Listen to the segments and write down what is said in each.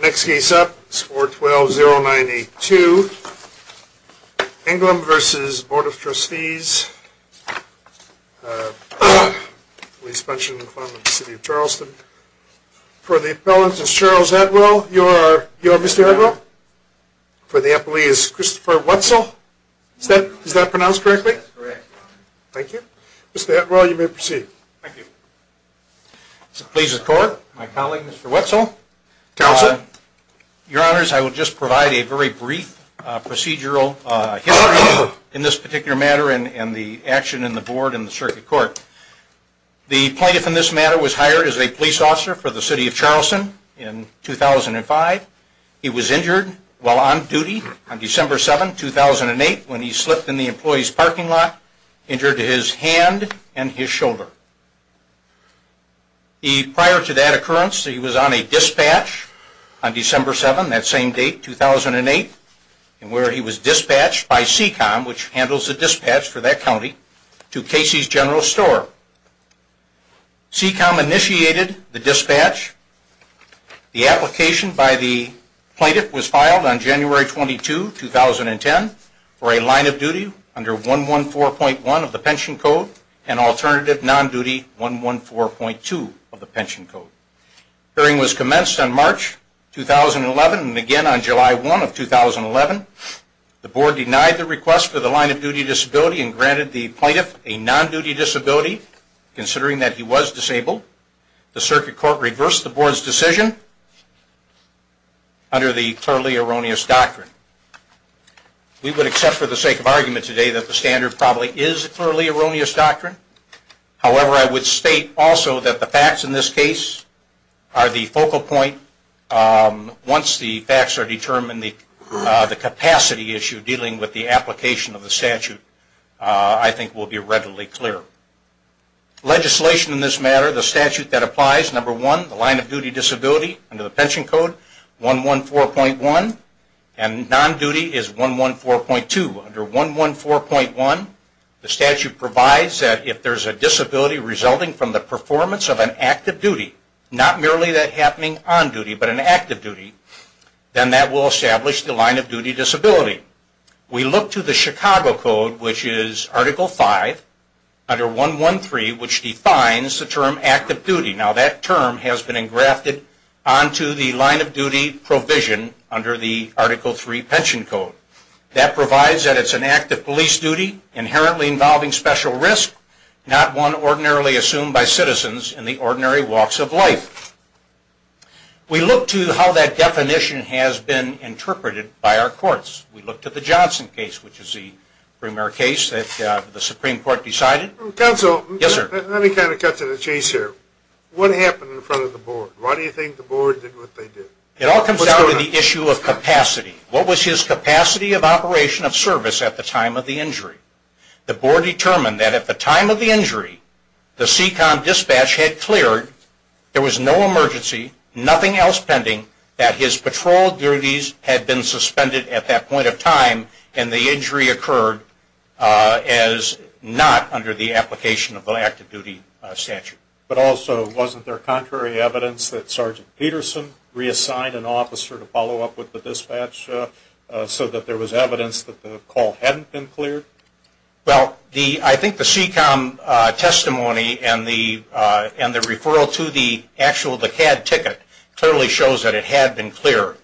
Next case up is 412-098-2, Englum v. Board of Trustees of Police Pension Fund of the City of Charleston. For the appellant, Mr. Charles Edwill, you are Mr. Edwill? Yes. For the appellee, is Christopher Wetzel? Is that pronounced correctly? Yes, correct. Thank you. Mr. Edwill, you may proceed. Thank you. Please record. My colleague, Mr. Wetzel. Counsel. Your honors, I will just provide a very brief procedural history in this particular matter and the action in the board and the circuit court. The plaintiff in this matter was hired as a police officer for the City of Charleston in 2005. He was injured while on duty on December 7, 2008, when he slipped in the employee's parking lot, injured his hand and his shoulder. Prior to that occurrence, he was on a dispatch on December 7, 2008, where he was dispatched by CECOM, which handles the dispatch for that county, to Casey's General Store. CECOM initiated the dispatch. The application by the plaintiff was filed on January 22, 2010, for a line of duty under 114.1 of the pension code and alternative non-duty 114.2 of the pension code. The hearing was commenced on March 2011 and again on July 1 of 2011. The board denied the request for the line of duty disability and granted the plaintiff a non-duty disability, considering that he was disabled. The circuit court reversed the board's decision under the clearly erroneous doctrine. We would accept for the sake of argument today that the standard probably is a clearly erroneous doctrine. However, I would state also that the facts in this case are the focal point. Once the facts are determined, the capacity issue dealing with the application of the statute I think will be readily clear. Legislation in this matter, the statute that applies, number one, the line of duty disability under the pension code 114.1 and non-duty is 114.2. Under 114.1, the statute provides that if there is a disability resulting from the performance of an active duty, not merely that happening on duty, but an active duty, then that will establish the line of duty disability. We look to the Chicago Code, which is Article 5, under 113, which defines the term active duty. Now that term has been engrafted onto the line of duty provision under the Article 3 pension code. That provides that it's an active police duty inherently involving special risk, not one ordinarily assumed by citizens in the ordinary walks of life. We look to how that definition has been interpreted by our courts. We look to the Johnson case, which is the premier case that the Supreme Court decided. Counsel, let me kind of cut to the chase here. What happened in front of the board? Why do you think the board did what they did? It all comes down to the issue of capacity. What was his capacity of operation of service at the time of the injury? The board determined that at the time of the injury, the SECON dispatch had cleared. There was no emergency, nothing else pending, that his patrol duties had been suspended at that point of time and the injury occurred as not under the application of the active duty statute. But also, wasn't there contrary evidence that Sergeant Peterson reassigned an officer to follow up with the dispatch so that there was evidence that the call hadn't been cleared? Well, I think the SECON testimony and the referral to the CAD ticket clearly shows that it had been cleared.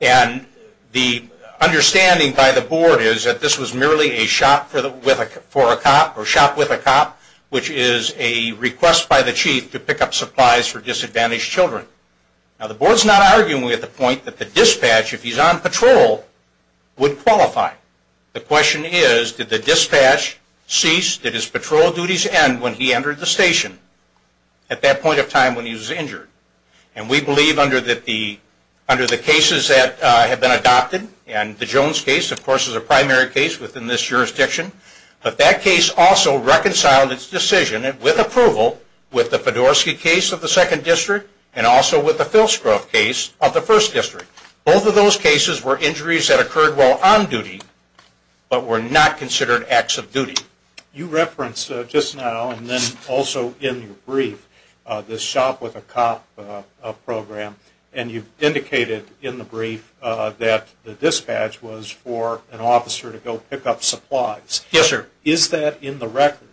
And the understanding by the board is that this was merely a shop for a cop or shop with a cop, which is a request by the chief to pick up supplies for disadvantaged children. Now, the board's not arguing at the point that the dispatch, if he's on patrol, would qualify. The question is, did the dispatch cease? Did his patrol duties end when he entered the station at that point of time when he was injured? And we believe under the cases that have been adopted, and the Jones case, of course, is a primary case within this jurisdiction, but that case also reconciled its decision with approval with the Fedorsky case of the 2nd District and also with the Filsgrove case of the 1st District. Both of those cases were injuries that occurred while on duty, but were not considered acts of duty. You referenced just now, and then also in your brief, this shop with a cop program, and you indicated in the brief that the dispatch was for an officer to go pick up supplies. Yes, sir. Is that in the record?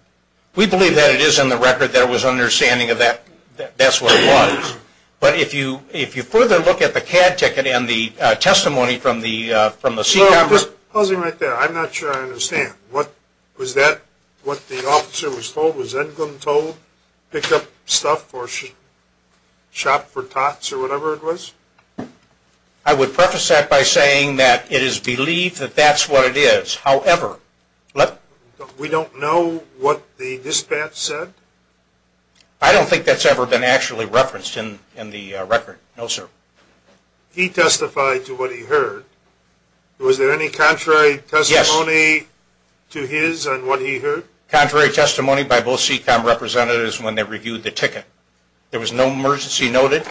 We believe that it is in the record. There was understanding of that that's what it was. But if you further look at the CAD ticket and the testimony from the SECON… Just pause me right there. I'm not sure I understand. Was that what the officer was told? Was Edgum told to pick up stuff or shop for tots or whatever it was? I would preface that by saying that it is believed that that's what it is. However… We don't know what the dispatch said? I don't think that's ever been actually referenced in the record. No, sir. He testified to what he heard. Was there any contrary testimony to his on what he heard? Contrary testimony by both SECON representatives when they reviewed the ticket. There was no emergency noted.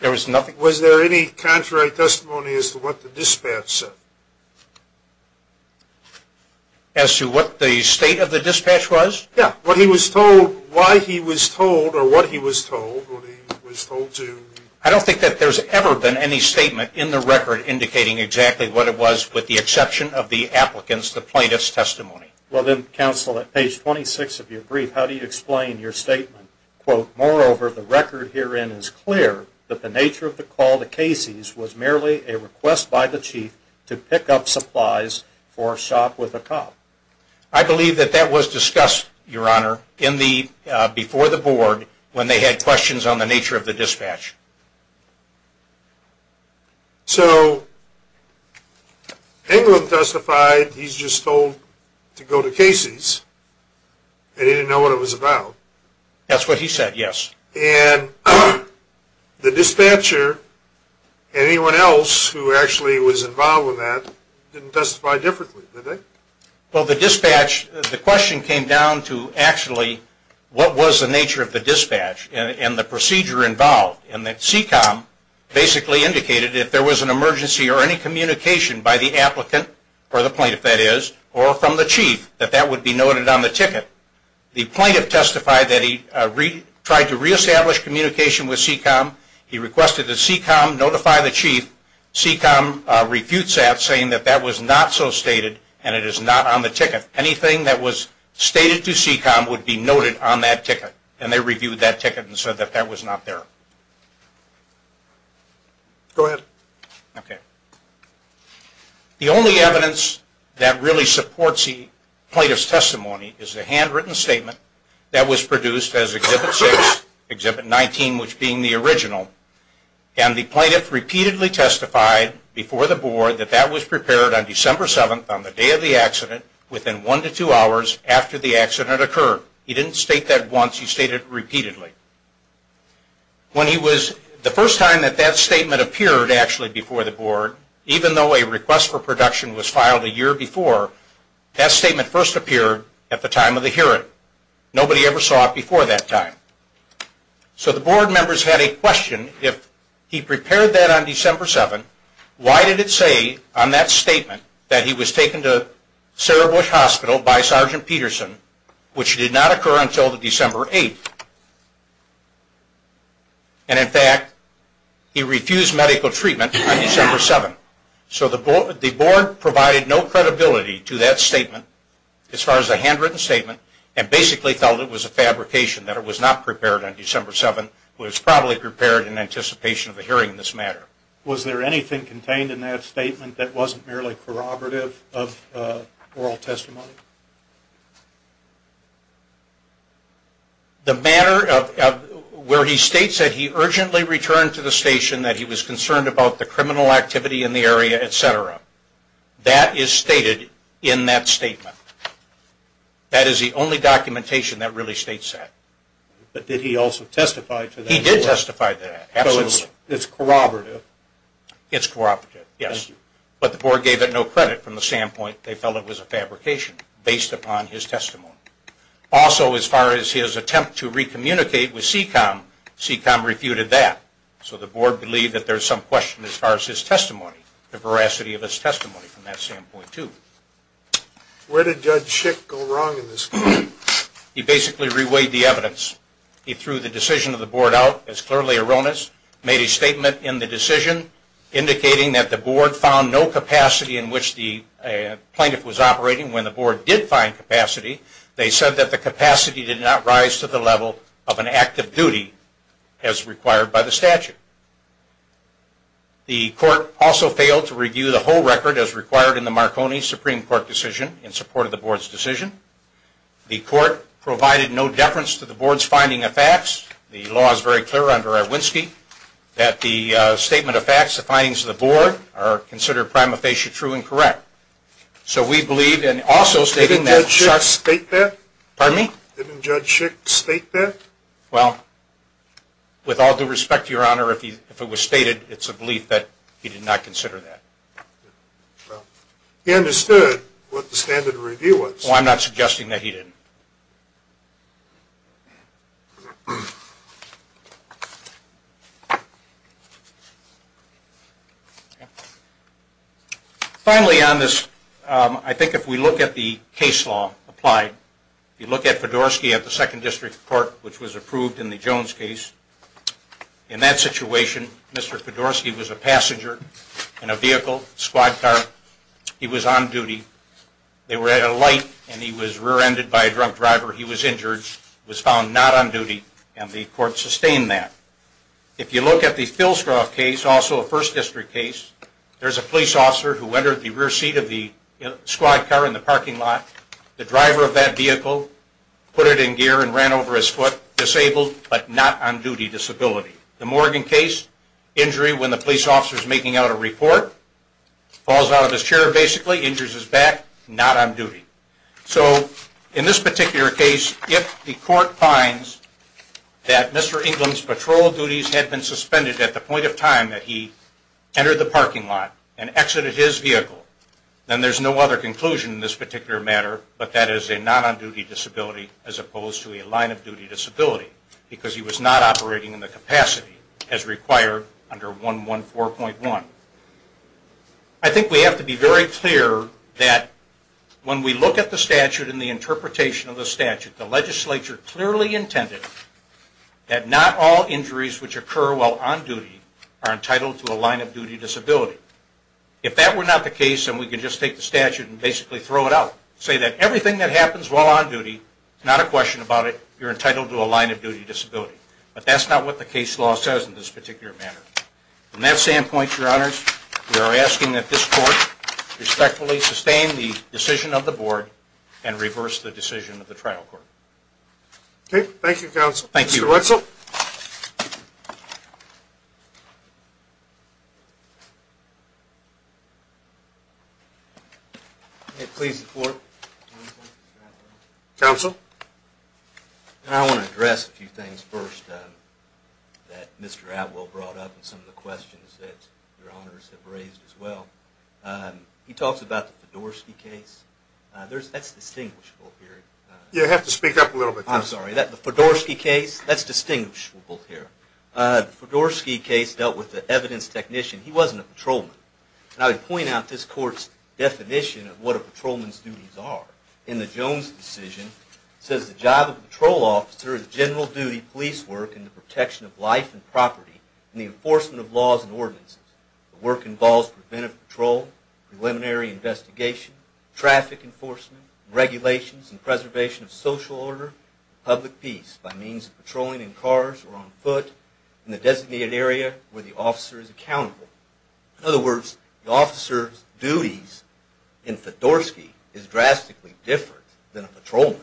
There was nothing… Was there any contrary testimony as to what the dispatch said? As to what the state of the dispatch was? Yeah, what he was told, why he was told, or what he was told when he was told to… I don't think that there's ever been any statement in the record indicating exactly what it was with the exception of the applicant's, the plaintiff's, testimony. Well, then, counsel, at page 26 of your brief, how do you explain your statement? Quote, Moreover, the record herein is clear that the nature of the call to Casey's was merely a request by the chief to pick up supplies for shop with a cop. I believe that that was discussed, Your Honor, before the board when they had questions on the nature of the dispatch. So, Englund testified he's just told to go to Casey's, and he didn't know what it was about. That's what he said, yes. And the dispatcher, anyone else who actually was involved with that, didn't testify differently, did they? Well, the dispatch, the question came down to, actually, what was the nature of the dispatch and the procedure involved? And that CECOM basically indicated if there was an emergency or any communication by the applicant, or the plaintiff, that is, or from the chief, that that would be noted on the ticket. The plaintiff testified that he tried to reestablish communication with CECOM. He requested that CECOM notify the chief. CECOM refutes that, saying that that was not so stated, and it is not on the ticket. Anything that was stated to CECOM would be noted on that ticket, and they reviewed that ticket and said that that was not there. Go ahead. Okay. The only evidence that really supports the plaintiff's testimony is the handwritten statement that was produced as Exhibit 6, Exhibit 19, which being the original. And the plaintiff repeatedly testified before the Board that that was prepared on December 7th, on the day of the accident, within one to two hours after the accident occurred. He didn't state that once. He stated it repeatedly. The first time that that statement appeared, actually, before the Board, even though a request for production was filed a year before, that statement first appeared at the time of the hearing. Nobody ever saw it before that time. So the Board members had a question. If he prepared that on December 7th, why did it say on that statement that he was taken to Sarah Bush Hospital by Sergeant Peterson, which did not occur until December 8th? And, in fact, he refused medical treatment on December 7th. So the Board provided no credibility to that statement, as far as the handwritten statement, and basically felt it was a fabrication, that it was not prepared on December 7th. It was probably prepared in anticipation of a hearing in this matter. Was there anything contained in that statement that wasn't merely corroborative of oral testimony? The matter where he states that he urgently returned to the station, that he was concerned about the criminal activity in the area, et cetera, that is stated in that statement. That is the only documentation that really states that. But did he also testify to that? He did testify to that, absolutely. So it's corroborative? It's corroborative, yes. But the Board gave it no credit from the standpoint they felt it was a fabrication, based upon his testimony. Also, as far as his attempt to re-communicate with CECOM, CECOM refuted that. So the Board believed that there was some question as far as his testimony, the veracity of his testimony from that standpoint, too. Where did Judge Schick go wrong in this case? He basically reweighed the evidence. He threw the decision of the Board out as clearly erroneous, made a statement in the decision indicating that the Board found no capacity in which the plaintiff was operating. When the Board did find capacity, they said that the capacity did not rise to the level of an act of duty as required by the statute. The Court also failed to review the whole record as required in the Marconi Supreme Court decision in support of the Board's decision. The Court provided no deference to the Board's finding of facts. The law is very clear under Iwinski that the statement of facts, the findings of the Board, are considered prima facie true and correct. So we believe in also stating that... Didn't Judge Schick state that? Pardon me? Didn't Judge Schick state that? Well, with all due respect, Your Honor, if it was stated, it's a belief that he did not consider that. He understood what the standard of review was. Well, I'm not suggesting that he didn't. Finally on this, I think if we look at the case law applied, if you look at Fedorsky at the Second District Court, which was approved in the Jones case, in that situation, Mr. Fedorsky was a passenger in a vehicle, squad car. He was on duty. They were at a light and he was rear-ended by a drunk driver. He was injured, was found not on duty, and the Court sustained that. If you look at the Filsgrove case, also a First District case, there's a police officer who entered the rear seat of the squad car in the parking lot. The driver of that vehicle put it in gear and ran over his foot, disabled, but not on duty disability. The Morgan case, injury when the police officer is making out a report, falls out of his chair basically, injures his back, not on duty. So in this particular case, if the Court finds that Mr. England's patrol duties had been suspended at the point of time that he entered the parking lot and exited his vehicle, then there's no other conclusion in this particular matter, but that is a non-on-duty disability as opposed to a line-of-duty disability because he was not operating in the capacity as required under 114.1. I think we have to be very clear that when we look at the statute and the interpretation of the statute, the legislature clearly intended that not all injuries which occur while on duty are entitled to a line-of-duty disability. If that were not the case and we could just take the statute and basically throw it out, say that everything that happens while on duty, not a question about it, you're entitled to a line-of-duty disability. But that's not what the case law says in this particular matter. From that standpoint, Your Honors, we are asking that this Court respectfully sustain the decision of the Board and reverse the decision of the trial court. Okay. Thank you, Counsel. Thank you. Mr. Wetzel? May it please the Court? Counsel? I want to address a few things first that Mr. Atwell brought up and some of the questions that Your Honors have raised as well. He talks about the Fedorsky case. That's distinguishable here. You have to speak up a little bit. I'm sorry. The Fedorsky case, that's distinguishable here. The Fedorsky case dealt with the evidence technician. He wasn't a patrolman. I would point out this Court's definition of what a patrolman's duties are. In the Jones decision, it says, The job of a patrol officer is general duty police work in the protection of life and property and the enforcement of laws and ordinances. The work involves preventive patrol, preliminary investigation, traffic enforcement, regulations and preservation of social order and public peace by means of patrolling in cars or on foot in the designated area where the officer is accountable. In other words, the officer's duties in Fedorsky is drastically different than a patrolman.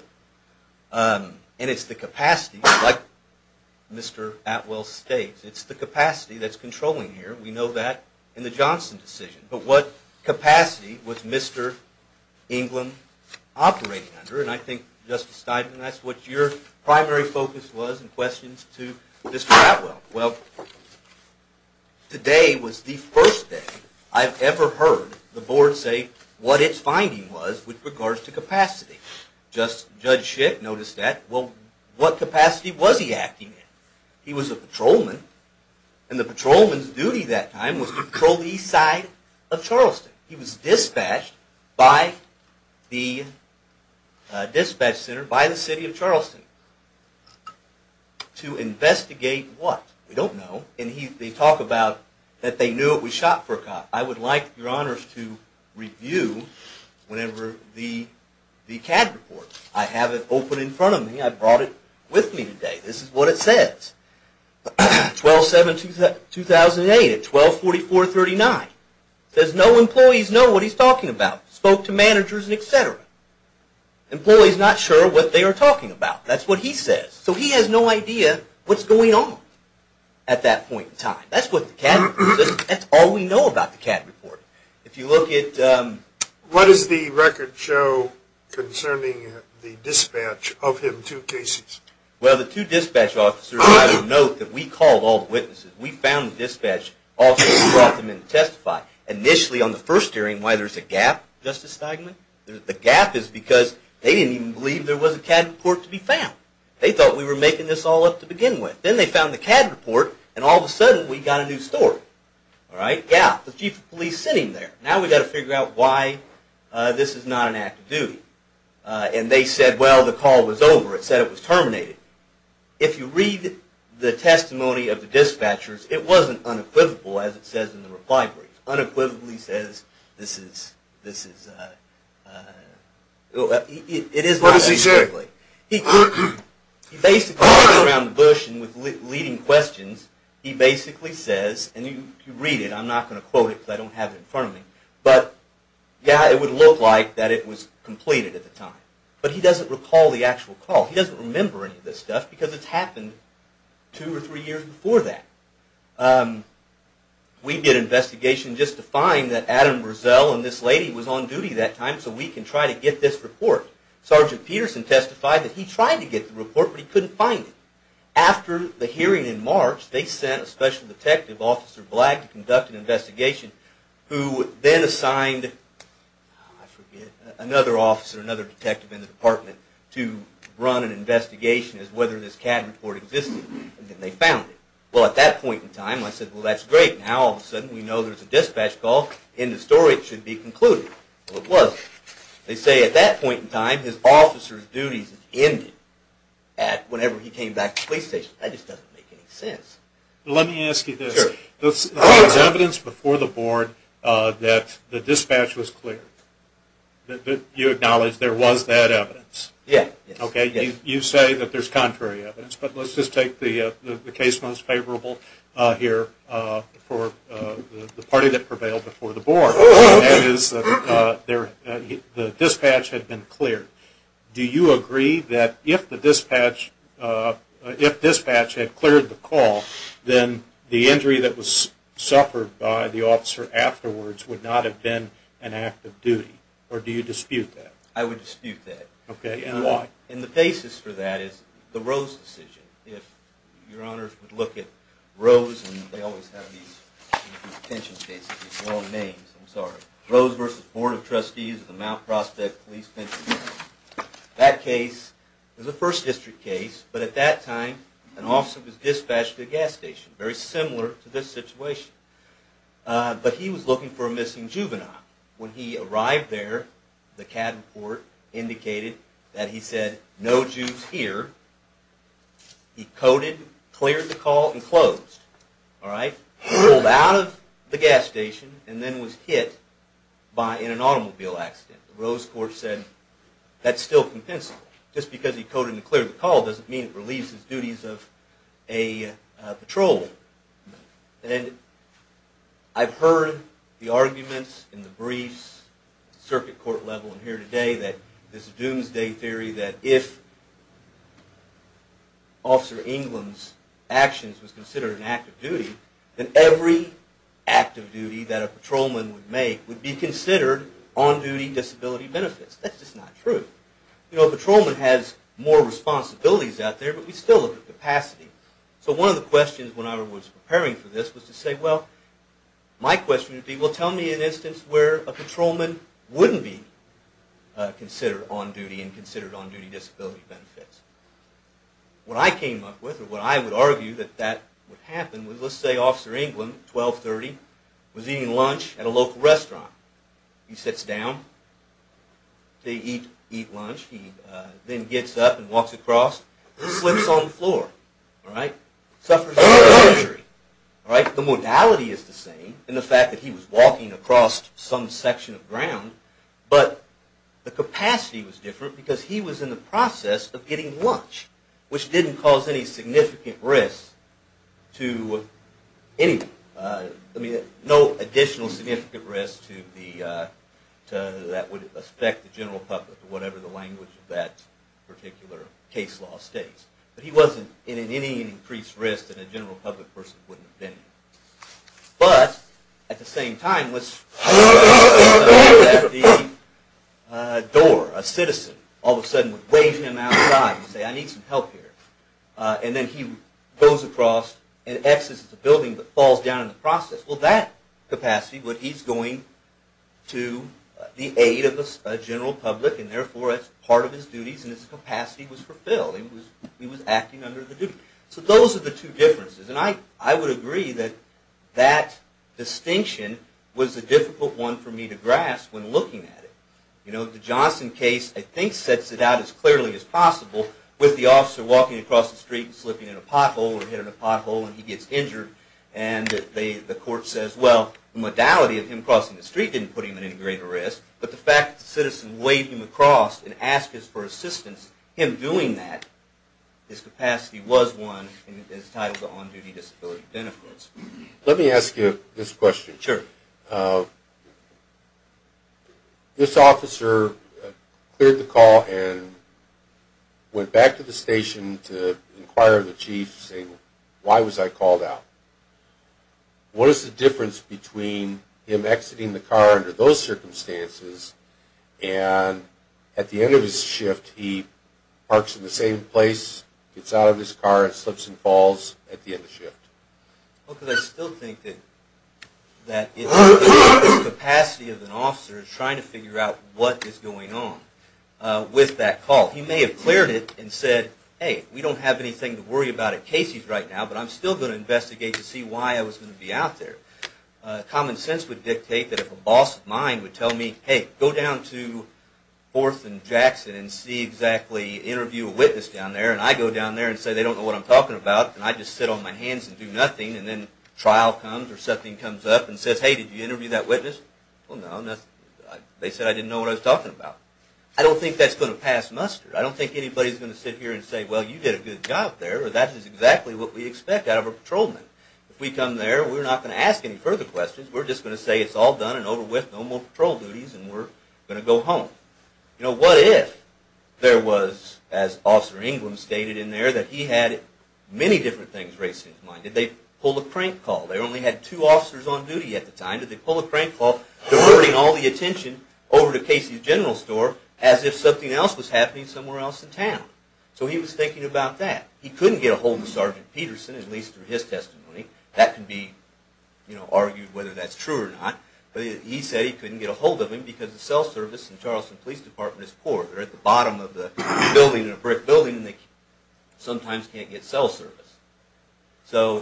And it's the capacity, like Mr. Atwell states, it's the capacity that's controlling here. We know that in the Johnson decision. But what capacity was Mr. England operating under? And I think, Justice Steinman, that's what your primary focus was in questions to Mr. Atwell. Well, today was the first day I've ever heard the Board say what its finding was with regards to capacity. Judge Schick noticed that. Well, what capacity was he acting in? He was a patrolman. And the patrolman's duty that time was to patrol the east side of Charleston. He was dispatched by the dispatch center by the city of Charleston. To investigate what? We don't know. And they talk about that they knew it was shot for a cop. I would like, Your Honors, to review the CAD report. I have it open in front of me. I brought it with me today. This is what it says. 12-7-2008 at 12-44-39. It says no employees know what he's talking about. Spoke to managers, et cetera. Employees not sure what they are talking about. That's what he says. So he has no idea what's going on at that point in time. That's what the CAD report says. That's all we know about the CAD report. If you look at the... What does the record show concerning the dispatch of him to cases? Well, the two dispatch officers, I would note that we called all the witnesses. We found the dispatch officers and brought them in to testify. Initially, on the first hearing, why there's a gap, Justice Steigman, the gap is because they didn't even believe there was a CAD report to be found. They thought we were making this all up to begin with. Then they found the CAD report, and all of a sudden we got a new story. Yeah, the chief of police sent him there. Now we've got to figure out why this is not an act of duty. And they said, well, the call was over. It said it was terminated. If you read the testimony of the dispatchers, it wasn't unequivocal as it says in the reply brief. Unequivocally says this is... What does he say? He basically goes around the bush and with leading questions, he basically says, and you read it. I'm not going to quote it because I don't have it in front of me. But, yeah, it would look like that it was completed at the time. But he doesn't recall the actual call. He doesn't remember any of this stuff because it's happened two or three years before that. We did an investigation just to find that Adam Burzell and this lady was on duty that time so we can try to get this report. Sergeant Peterson testified that he tried to get the report, but he couldn't find it. After the hearing in March, they sent a special detective, Officer Blagg, to conduct an investigation, who then assigned another officer, another detective in the department, to run an investigation as to whether this CAD report existed. And they found it. Well, at that point in time, I said, well, that's great. Now, all of a sudden, we know there's a dispatch call. In the story, it should be concluded. Well, it wasn't. They say at that point in time, his officer's duties ended whenever he came back to the police station. That just doesn't make any sense. Let me ask you this. There was evidence before the board that the dispatch was cleared. You acknowledge there was that evidence? Yes. Okay. You say that there's contrary evidence, but let's just take the case most favorable here for the party that prevailed before the board, and that is the dispatch had been cleared. Do you agree that if the dispatch had cleared the call, then the injury that was suffered by the officer afterwards would not have been an act of duty, or do you dispute that? I would dispute that. Okay. And why? And the basis for that is the Rose decision. If your honors would look at Rose, and they always have these detention cases with wrong names. I'm sorry. Rose v. Board of Trustees of the Mount Prospect Police Detention Center. That case is a First District case, but at that time, an officer was dispatched to the gas station. Very similar to this situation. But he was looking for a missing juvenile. When he arrived there, the CAD report indicated that he said, no Jews here. He coded, cleared the call, and closed. Pulled out of the gas station and then was hit in an automobile accident. The Rose court said that's still compensable. Just because he coded and cleared the call doesn't mean it relieves his duties of a patrolman. And I've heard the arguments in the briefs, circuit court level, and here today that this doomsday theory that if Officer England's actions was considered an act of duty, then every act of duty that a patrolman would make would be considered on-duty disability benefits. That's just not true. You know, a patrolman has more responsibilities out there, but we still look at capacity. So one of the questions when I was preparing for this was to say, well, my question would be, well, tell me an instance where a patrolman wouldn't be considered on-duty and considered on-duty disability benefits. What I came up with, or what I would argue that that would happen, was let's say Officer England, 1230, was eating lunch at a local restaurant. He sits down to eat lunch. He then gets up and walks across. He slips on the floor. Suffers injury. The modality is the same in the fact that he was walking across some section of ground, but the capacity was different because he was in the process of getting lunch, which didn't cause any significant risk to anyone. No additional significant risk that would affect the general public, whatever the language of that particular case law states. But he wasn't in any increased risk that a general public person wouldn't have been in. But, at the same time, let's suppose that the door, a citizen, all of a sudden waves him outside and says, I need some help here. And then he goes across and exits the building but falls down in the process. Well, that capacity, but he's going to the aid of a general public, and therefore it's part of his duties and his capacity was fulfilled. He was acting under the duty. So those are the two differences, and I would agree that that distinction was a difficult one for me to grasp when looking at it. The Johnson case, I think, sets it out as clearly as possible with the officer walking across the street and slipping in a pothole or hit in a pothole and he gets injured. And the court says, well, the modality of him crossing the street didn't put him at any greater risk, but the fact that the citizen waved him across and asked for assistance, him doing that, his capacity was won and his title to on-duty disability benefits. Let me ask you this question. Sure. This officer cleared the call and went back to the station to inquire of the chief saying, why was I called out? What is the difference between him exiting the car under those circumstances and at the end of his shift he parks in the same place, gets out of his car and slips and falls at the end of the shift? Well, because I still think that it's the capacity of an officer trying to figure out what is going on with that call. He may have cleared it and said, hey, we don't have anything to worry about at Casey's right now, but I'm still going to investigate to see why I was going to be out there. Common sense would dictate that if a boss of mine would tell me, hey, go down to 4th and Jackson and see exactly, interview a witness down there, and I go down there and say they don't know what I'm talking about, and I just sit on my hands and do nothing, and then trial comes or something comes up and says, hey, did you interview that witness? Well, no, they said I didn't know what I was talking about. I don't think that's going to pass muster. I don't think anybody's going to sit here and say, well, you did a good job there or that is exactly what we expect out of a patrolman. If we come there, we're not going to ask any further questions. We're just going to say it's all done and over with, no more patrol duties and we're going to go home. You know, what if there was, as Officer England stated in there, that he had many different things racing in his mind. Did they pull a crank call? They only had two officers on duty at the time. Did they pull a crank call, diverting all the attention over to Casey's General Store as if something else was happening somewhere else in town? So he was thinking about that. He couldn't get a hold of Sergeant Peterson, at least through his testimony. That can be argued whether that's true or not, but he said he couldn't get a hold of him because the cell service in Charleston Police Department is poor. They're at the bottom of the building, in a brick building, and they sometimes can't get cell service. So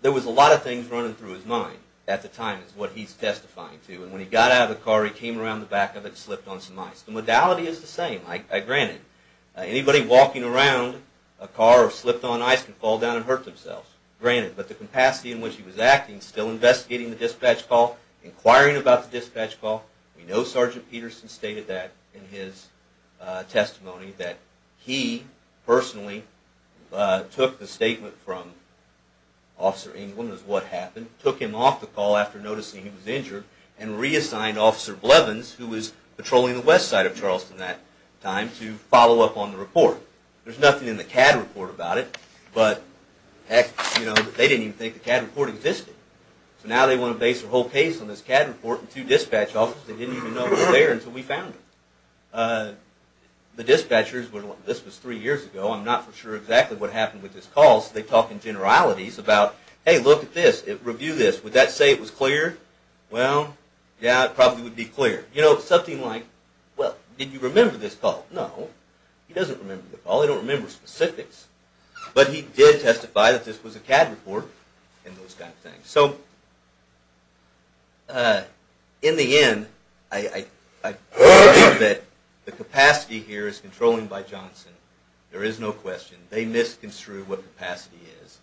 there was a lot of things running through his mind at the time, is what he's testifying to. And when he got out of the car, he came around the back of it and slipped on some ice. The modality is the same, granted. Anybody walking around a car or slipped on ice can fall down and hurt themselves, granted. But the capacity in which he was acting, still investigating the dispatch call, inquiring about the dispatch call, we know Sergeant Peterson stated that in his testimony, that he personally took the statement from Officer Englund as to what happened, took him off the call after noticing he was injured, and reassigned Officer Blevins, who was patrolling the west side of Charleston at that time, to follow up on the report. There's nothing in the CAD report about it, but they didn't even think the CAD report existed. So now they want to base their whole case on this CAD report and two dispatch officers that didn't even know were there until we found them. The dispatchers were like, this was three years ago, I'm not for sure exactly what happened with this call, so they talk in generalities about, hey, look at this, review this. Would that say it was clear? Well, yeah, it probably would be clear. You know, something like, well, did you remember this call? No, he doesn't remember the call. They don't remember specifics. But he did testify that this was a CAD report and those kind of things. So in the end, I believe that the capacity here is controlled by Johnson. There is no question. They misconstrued what capacity is.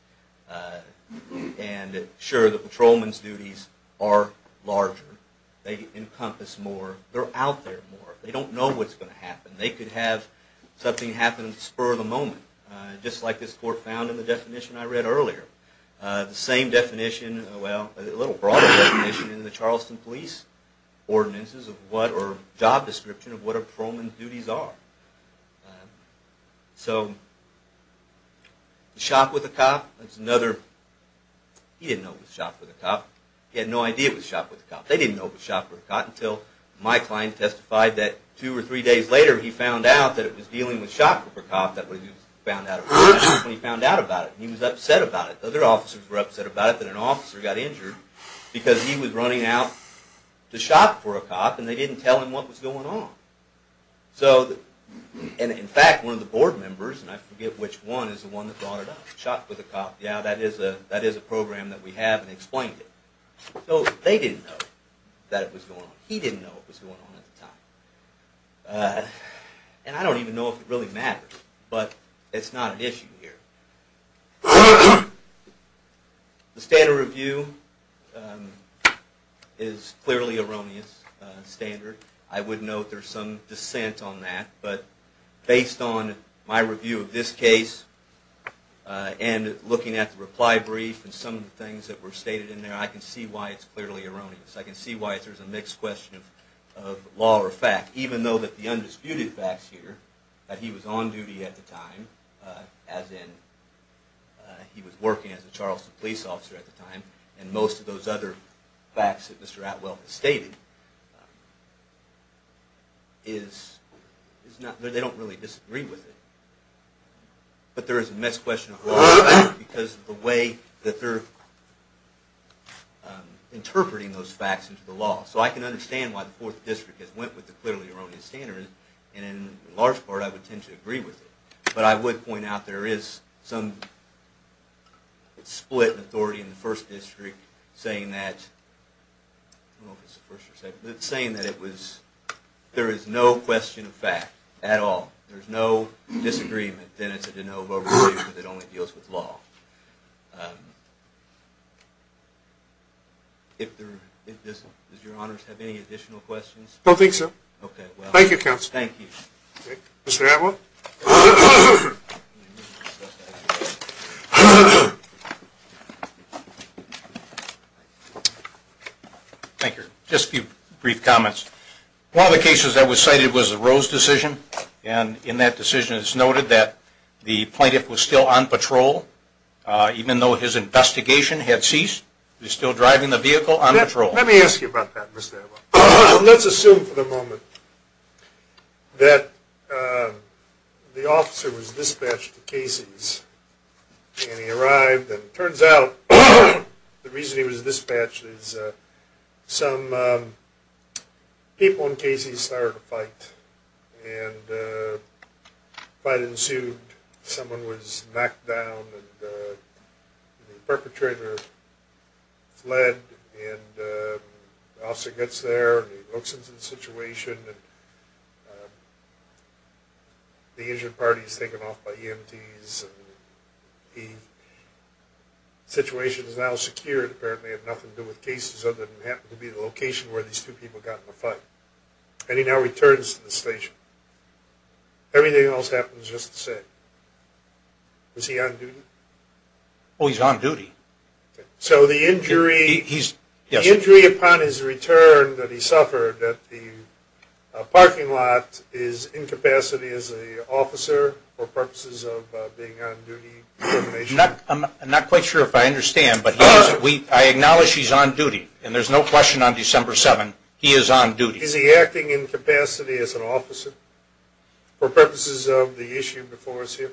And sure, the patrolman's duties are larger. They encompass more. They're out there more. They don't know what's going to happen. They could have something happen spur of the moment, just like this court found in the definition I read earlier. The same definition, well, a little broader definition in the Charleston police ordinances or job description of what a patrolman's duties are. So the shop with a cop, that's another. He didn't know it was shop with a cop. He had no idea it was shop with a cop. They didn't know it was shop with a cop until my client testified that two or three days later, he found out that it was dealing with shop with a cop. That's when he found out about it. He was upset about it. Other officers were upset about it, that an officer got injured because he was running out to shop for a cop, and they didn't tell him what was going on. And in fact, one of the board members, and I forget which one, is the one that brought it up. Shop with a cop, yeah, that is a program that we have and explained it. So they didn't know that it was going on. He didn't know it was going on at the time. And I don't even know if it really matters, but it's not an issue here. The standard review is clearly erroneous standard. I would note there's some dissent on that, but based on my review of this case and looking at the reply brief and some of the things that were stated in there, I can see why it's clearly erroneous. I can see why there's a mixed question of law or fact, even though the undisputed facts here, that he was on duty at the time, as in he was working as a Charleston police officer at the time, and most of those other facts that Mr. Atwell has stated, they don't really disagree with it. But there is a mixed question of law and fact because of the way that they're interpreting those facts into the law. So I can understand why the 4th District has went with the clearly erroneous standard, and in large part I would tend to agree with it. But I would point out there is some split in authority in the 1st District saying that there is no question of fact at all. If there's no disagreement, then it's a de novo review because it only deals with law. Does your honors have any additional questions? I don't think so. Okay. Thank you, counsel. Thank you. Mr. Atwell? Thank you. Just a few brief comments. One of the cases that was cited was the Rose decision, and in that decision it's noted that the plaintiff was still on patrol even though his investigation had ceased. He was still driving the vehicle on patrol. Let me ask you about that, Mr. Atwell. Let's assume for the moment that the officer was dispatched to Casey's and he arrived and it turns out the reason he was dispatched is some people in Casey's started a fight and the fight ensued. Someone was knocked down and the perpetrator fled and the officer gets there and he looks into the situation. The injured party is taken off by EMTs. The situation is now secured. Apparently it had nothing to do with Casey's other than it happened to be the location where these two people got in a fight. And he now returns to the station. Everything else happens just the same. Was he on duty? Oh, he's on duty. So the injury upon his return that he suffered at the parking lot is incapacity as an officer for purposes of being on duty? I'm not quite sure if I understand, but I acknowledge he's on duty, and there's no question on December 7th he is on duty. Is he acting incapacity as an officer for purposes of the issue before us here?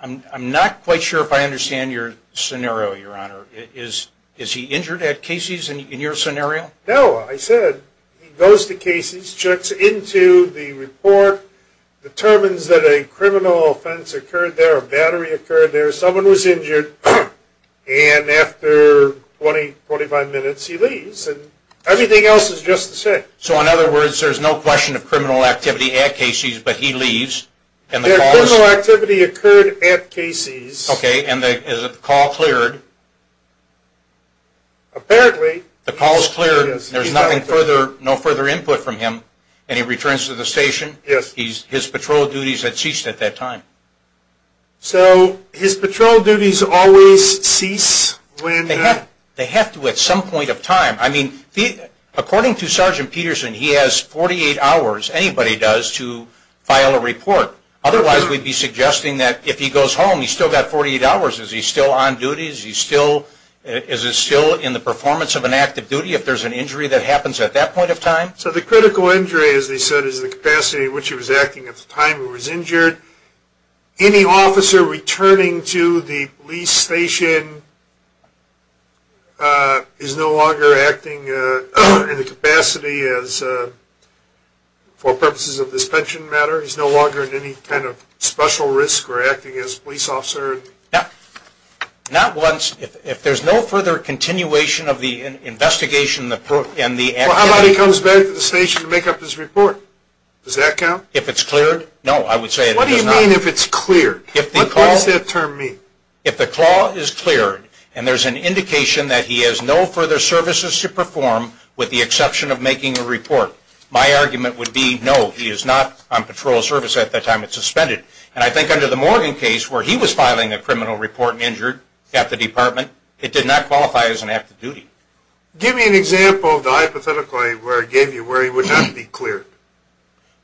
I'm not quite sure if I understand your scenario, Your Honor. Is he injured at Casey's in your scenario? No, I said he goes to Casey's, checks into the report, determines that a criminal offense occurred there, a battery occurred there, someone was injured, and after 20, 45 minutes he leaves. Everything else is just the same. So in other words, there's no question of criminal activity at Casey's, but he leaves. No, criminal activity occurred at Casey's. Okay, and is the call cleared? Apparently. The call is cleared. There's no further input from him, and he returns to the station? Yes. His patrol duties had ceased at that time. So his patrol duties always cease when? They have to at some point of time. I mean, according to Sergeant Peterson, he has 48 hours, anybody does, to file a report. Otherwise, we'd be suggesting that if he goes home, he's still got 48 hours. Is he still on duty? Is he still in the performance of an active duty if there's an injury that happens at that point of time? So the critical injury, as they said, is the capacity in which he was acting at the time he was injured. Any officer returning to the police station is no longer acting in the capacity for purposes of this pension matter. He's no longer at any kind of special risk or acting as a police officer? No, not once. If there's no further continuation of the investigation and the activity. Well, how about he comes back to the station to make up his report? Does that count? If it's cleared? No, I would say it does not. What do you mean if it's cleared? What does that term mean? If the call is cleared and there's an indication that he has no further services to perform with the exception of making a report, my argument would be no, he is not on patrol service at the time it's suspended. And I think under the Morgan case where he was filing a criminal report and injured at the department, it did not qualify as an active duty. Give me an example of the hypothetical I gave you where he would not be cleared.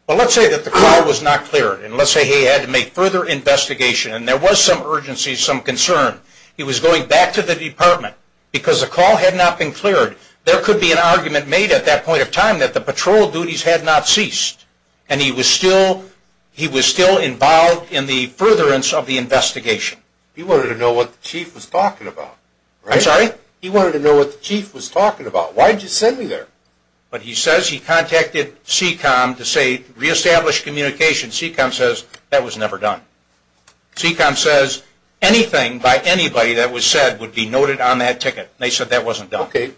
Well, let's say that the call was not cleared and let's say he had to make further investigation and there was some urgency, some concern. He was going back to the department because the call had not been cleared. There could be an argument made at that point of time that the patrol duties had not ceased and he was still involved in the furtherance of the investigation. He wanted to know what the chief was talking about. I'm sorry? He wanted to know what the chief was talking about. Why did you send me there? But he says he contacted CECOM to reestablish communication. CECOM says that was never done. CECOM says anything by anybody that was said would be noted on that ticket. They said that wasn't done. Okay.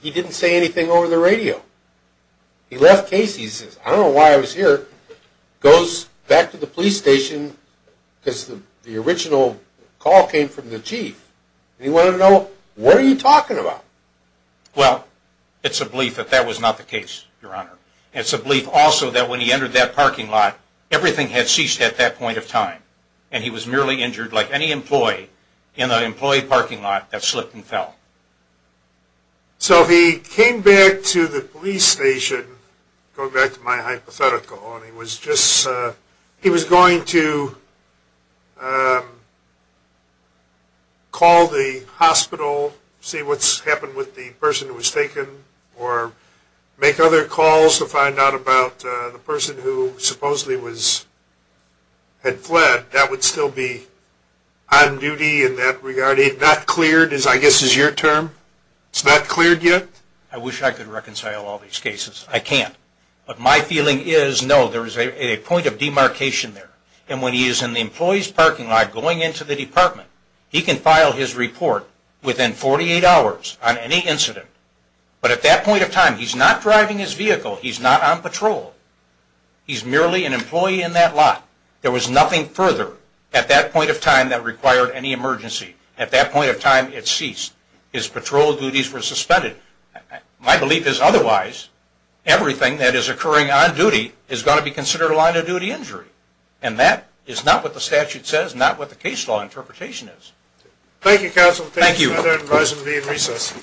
He didn't say anything over the radio. He left Casey's. He says, I don't know why I was here. Goes back to the police station because the original call came from the chief. He wanted to know, what are you talking about? Well, it's a belief that that was not the case, Your Honor. It's a belief also that when he entered that parking lot, everything had ceased at that point of time and he was merely injured like any employee in the employee parking lot that slipped and fell. So he came back to the police station, going back to my hypothetical, and he was going to call the hospital, see what's happened with the person who was taken, or make other calls to find out about the person who supposedly had fled. That would still be on duty in that regard? Not cleared, I guess, is your term? It's not cleared yet? I wish I could reconcile all these cases. I can't. But my feeling is, no, there is a point of demarcation there. And when he is in the employee's parking lot going into the department, he can file his report within 48 hours on any incident. But at that point of time, he's not driving his vehicle. He's not on patrol. He's merely an employee in that lot. There was nothing further at that point of time that required any emergency. At that point of time, it ceased. His patrol duties were suspended. My belief is, otherwise, everything that is occurring on duty is going to be considered a line of duty injury. And that is not what the statute says, not what the case law interpretation is. Thank you, counsel. Thank you. I'd advise him to be in recess.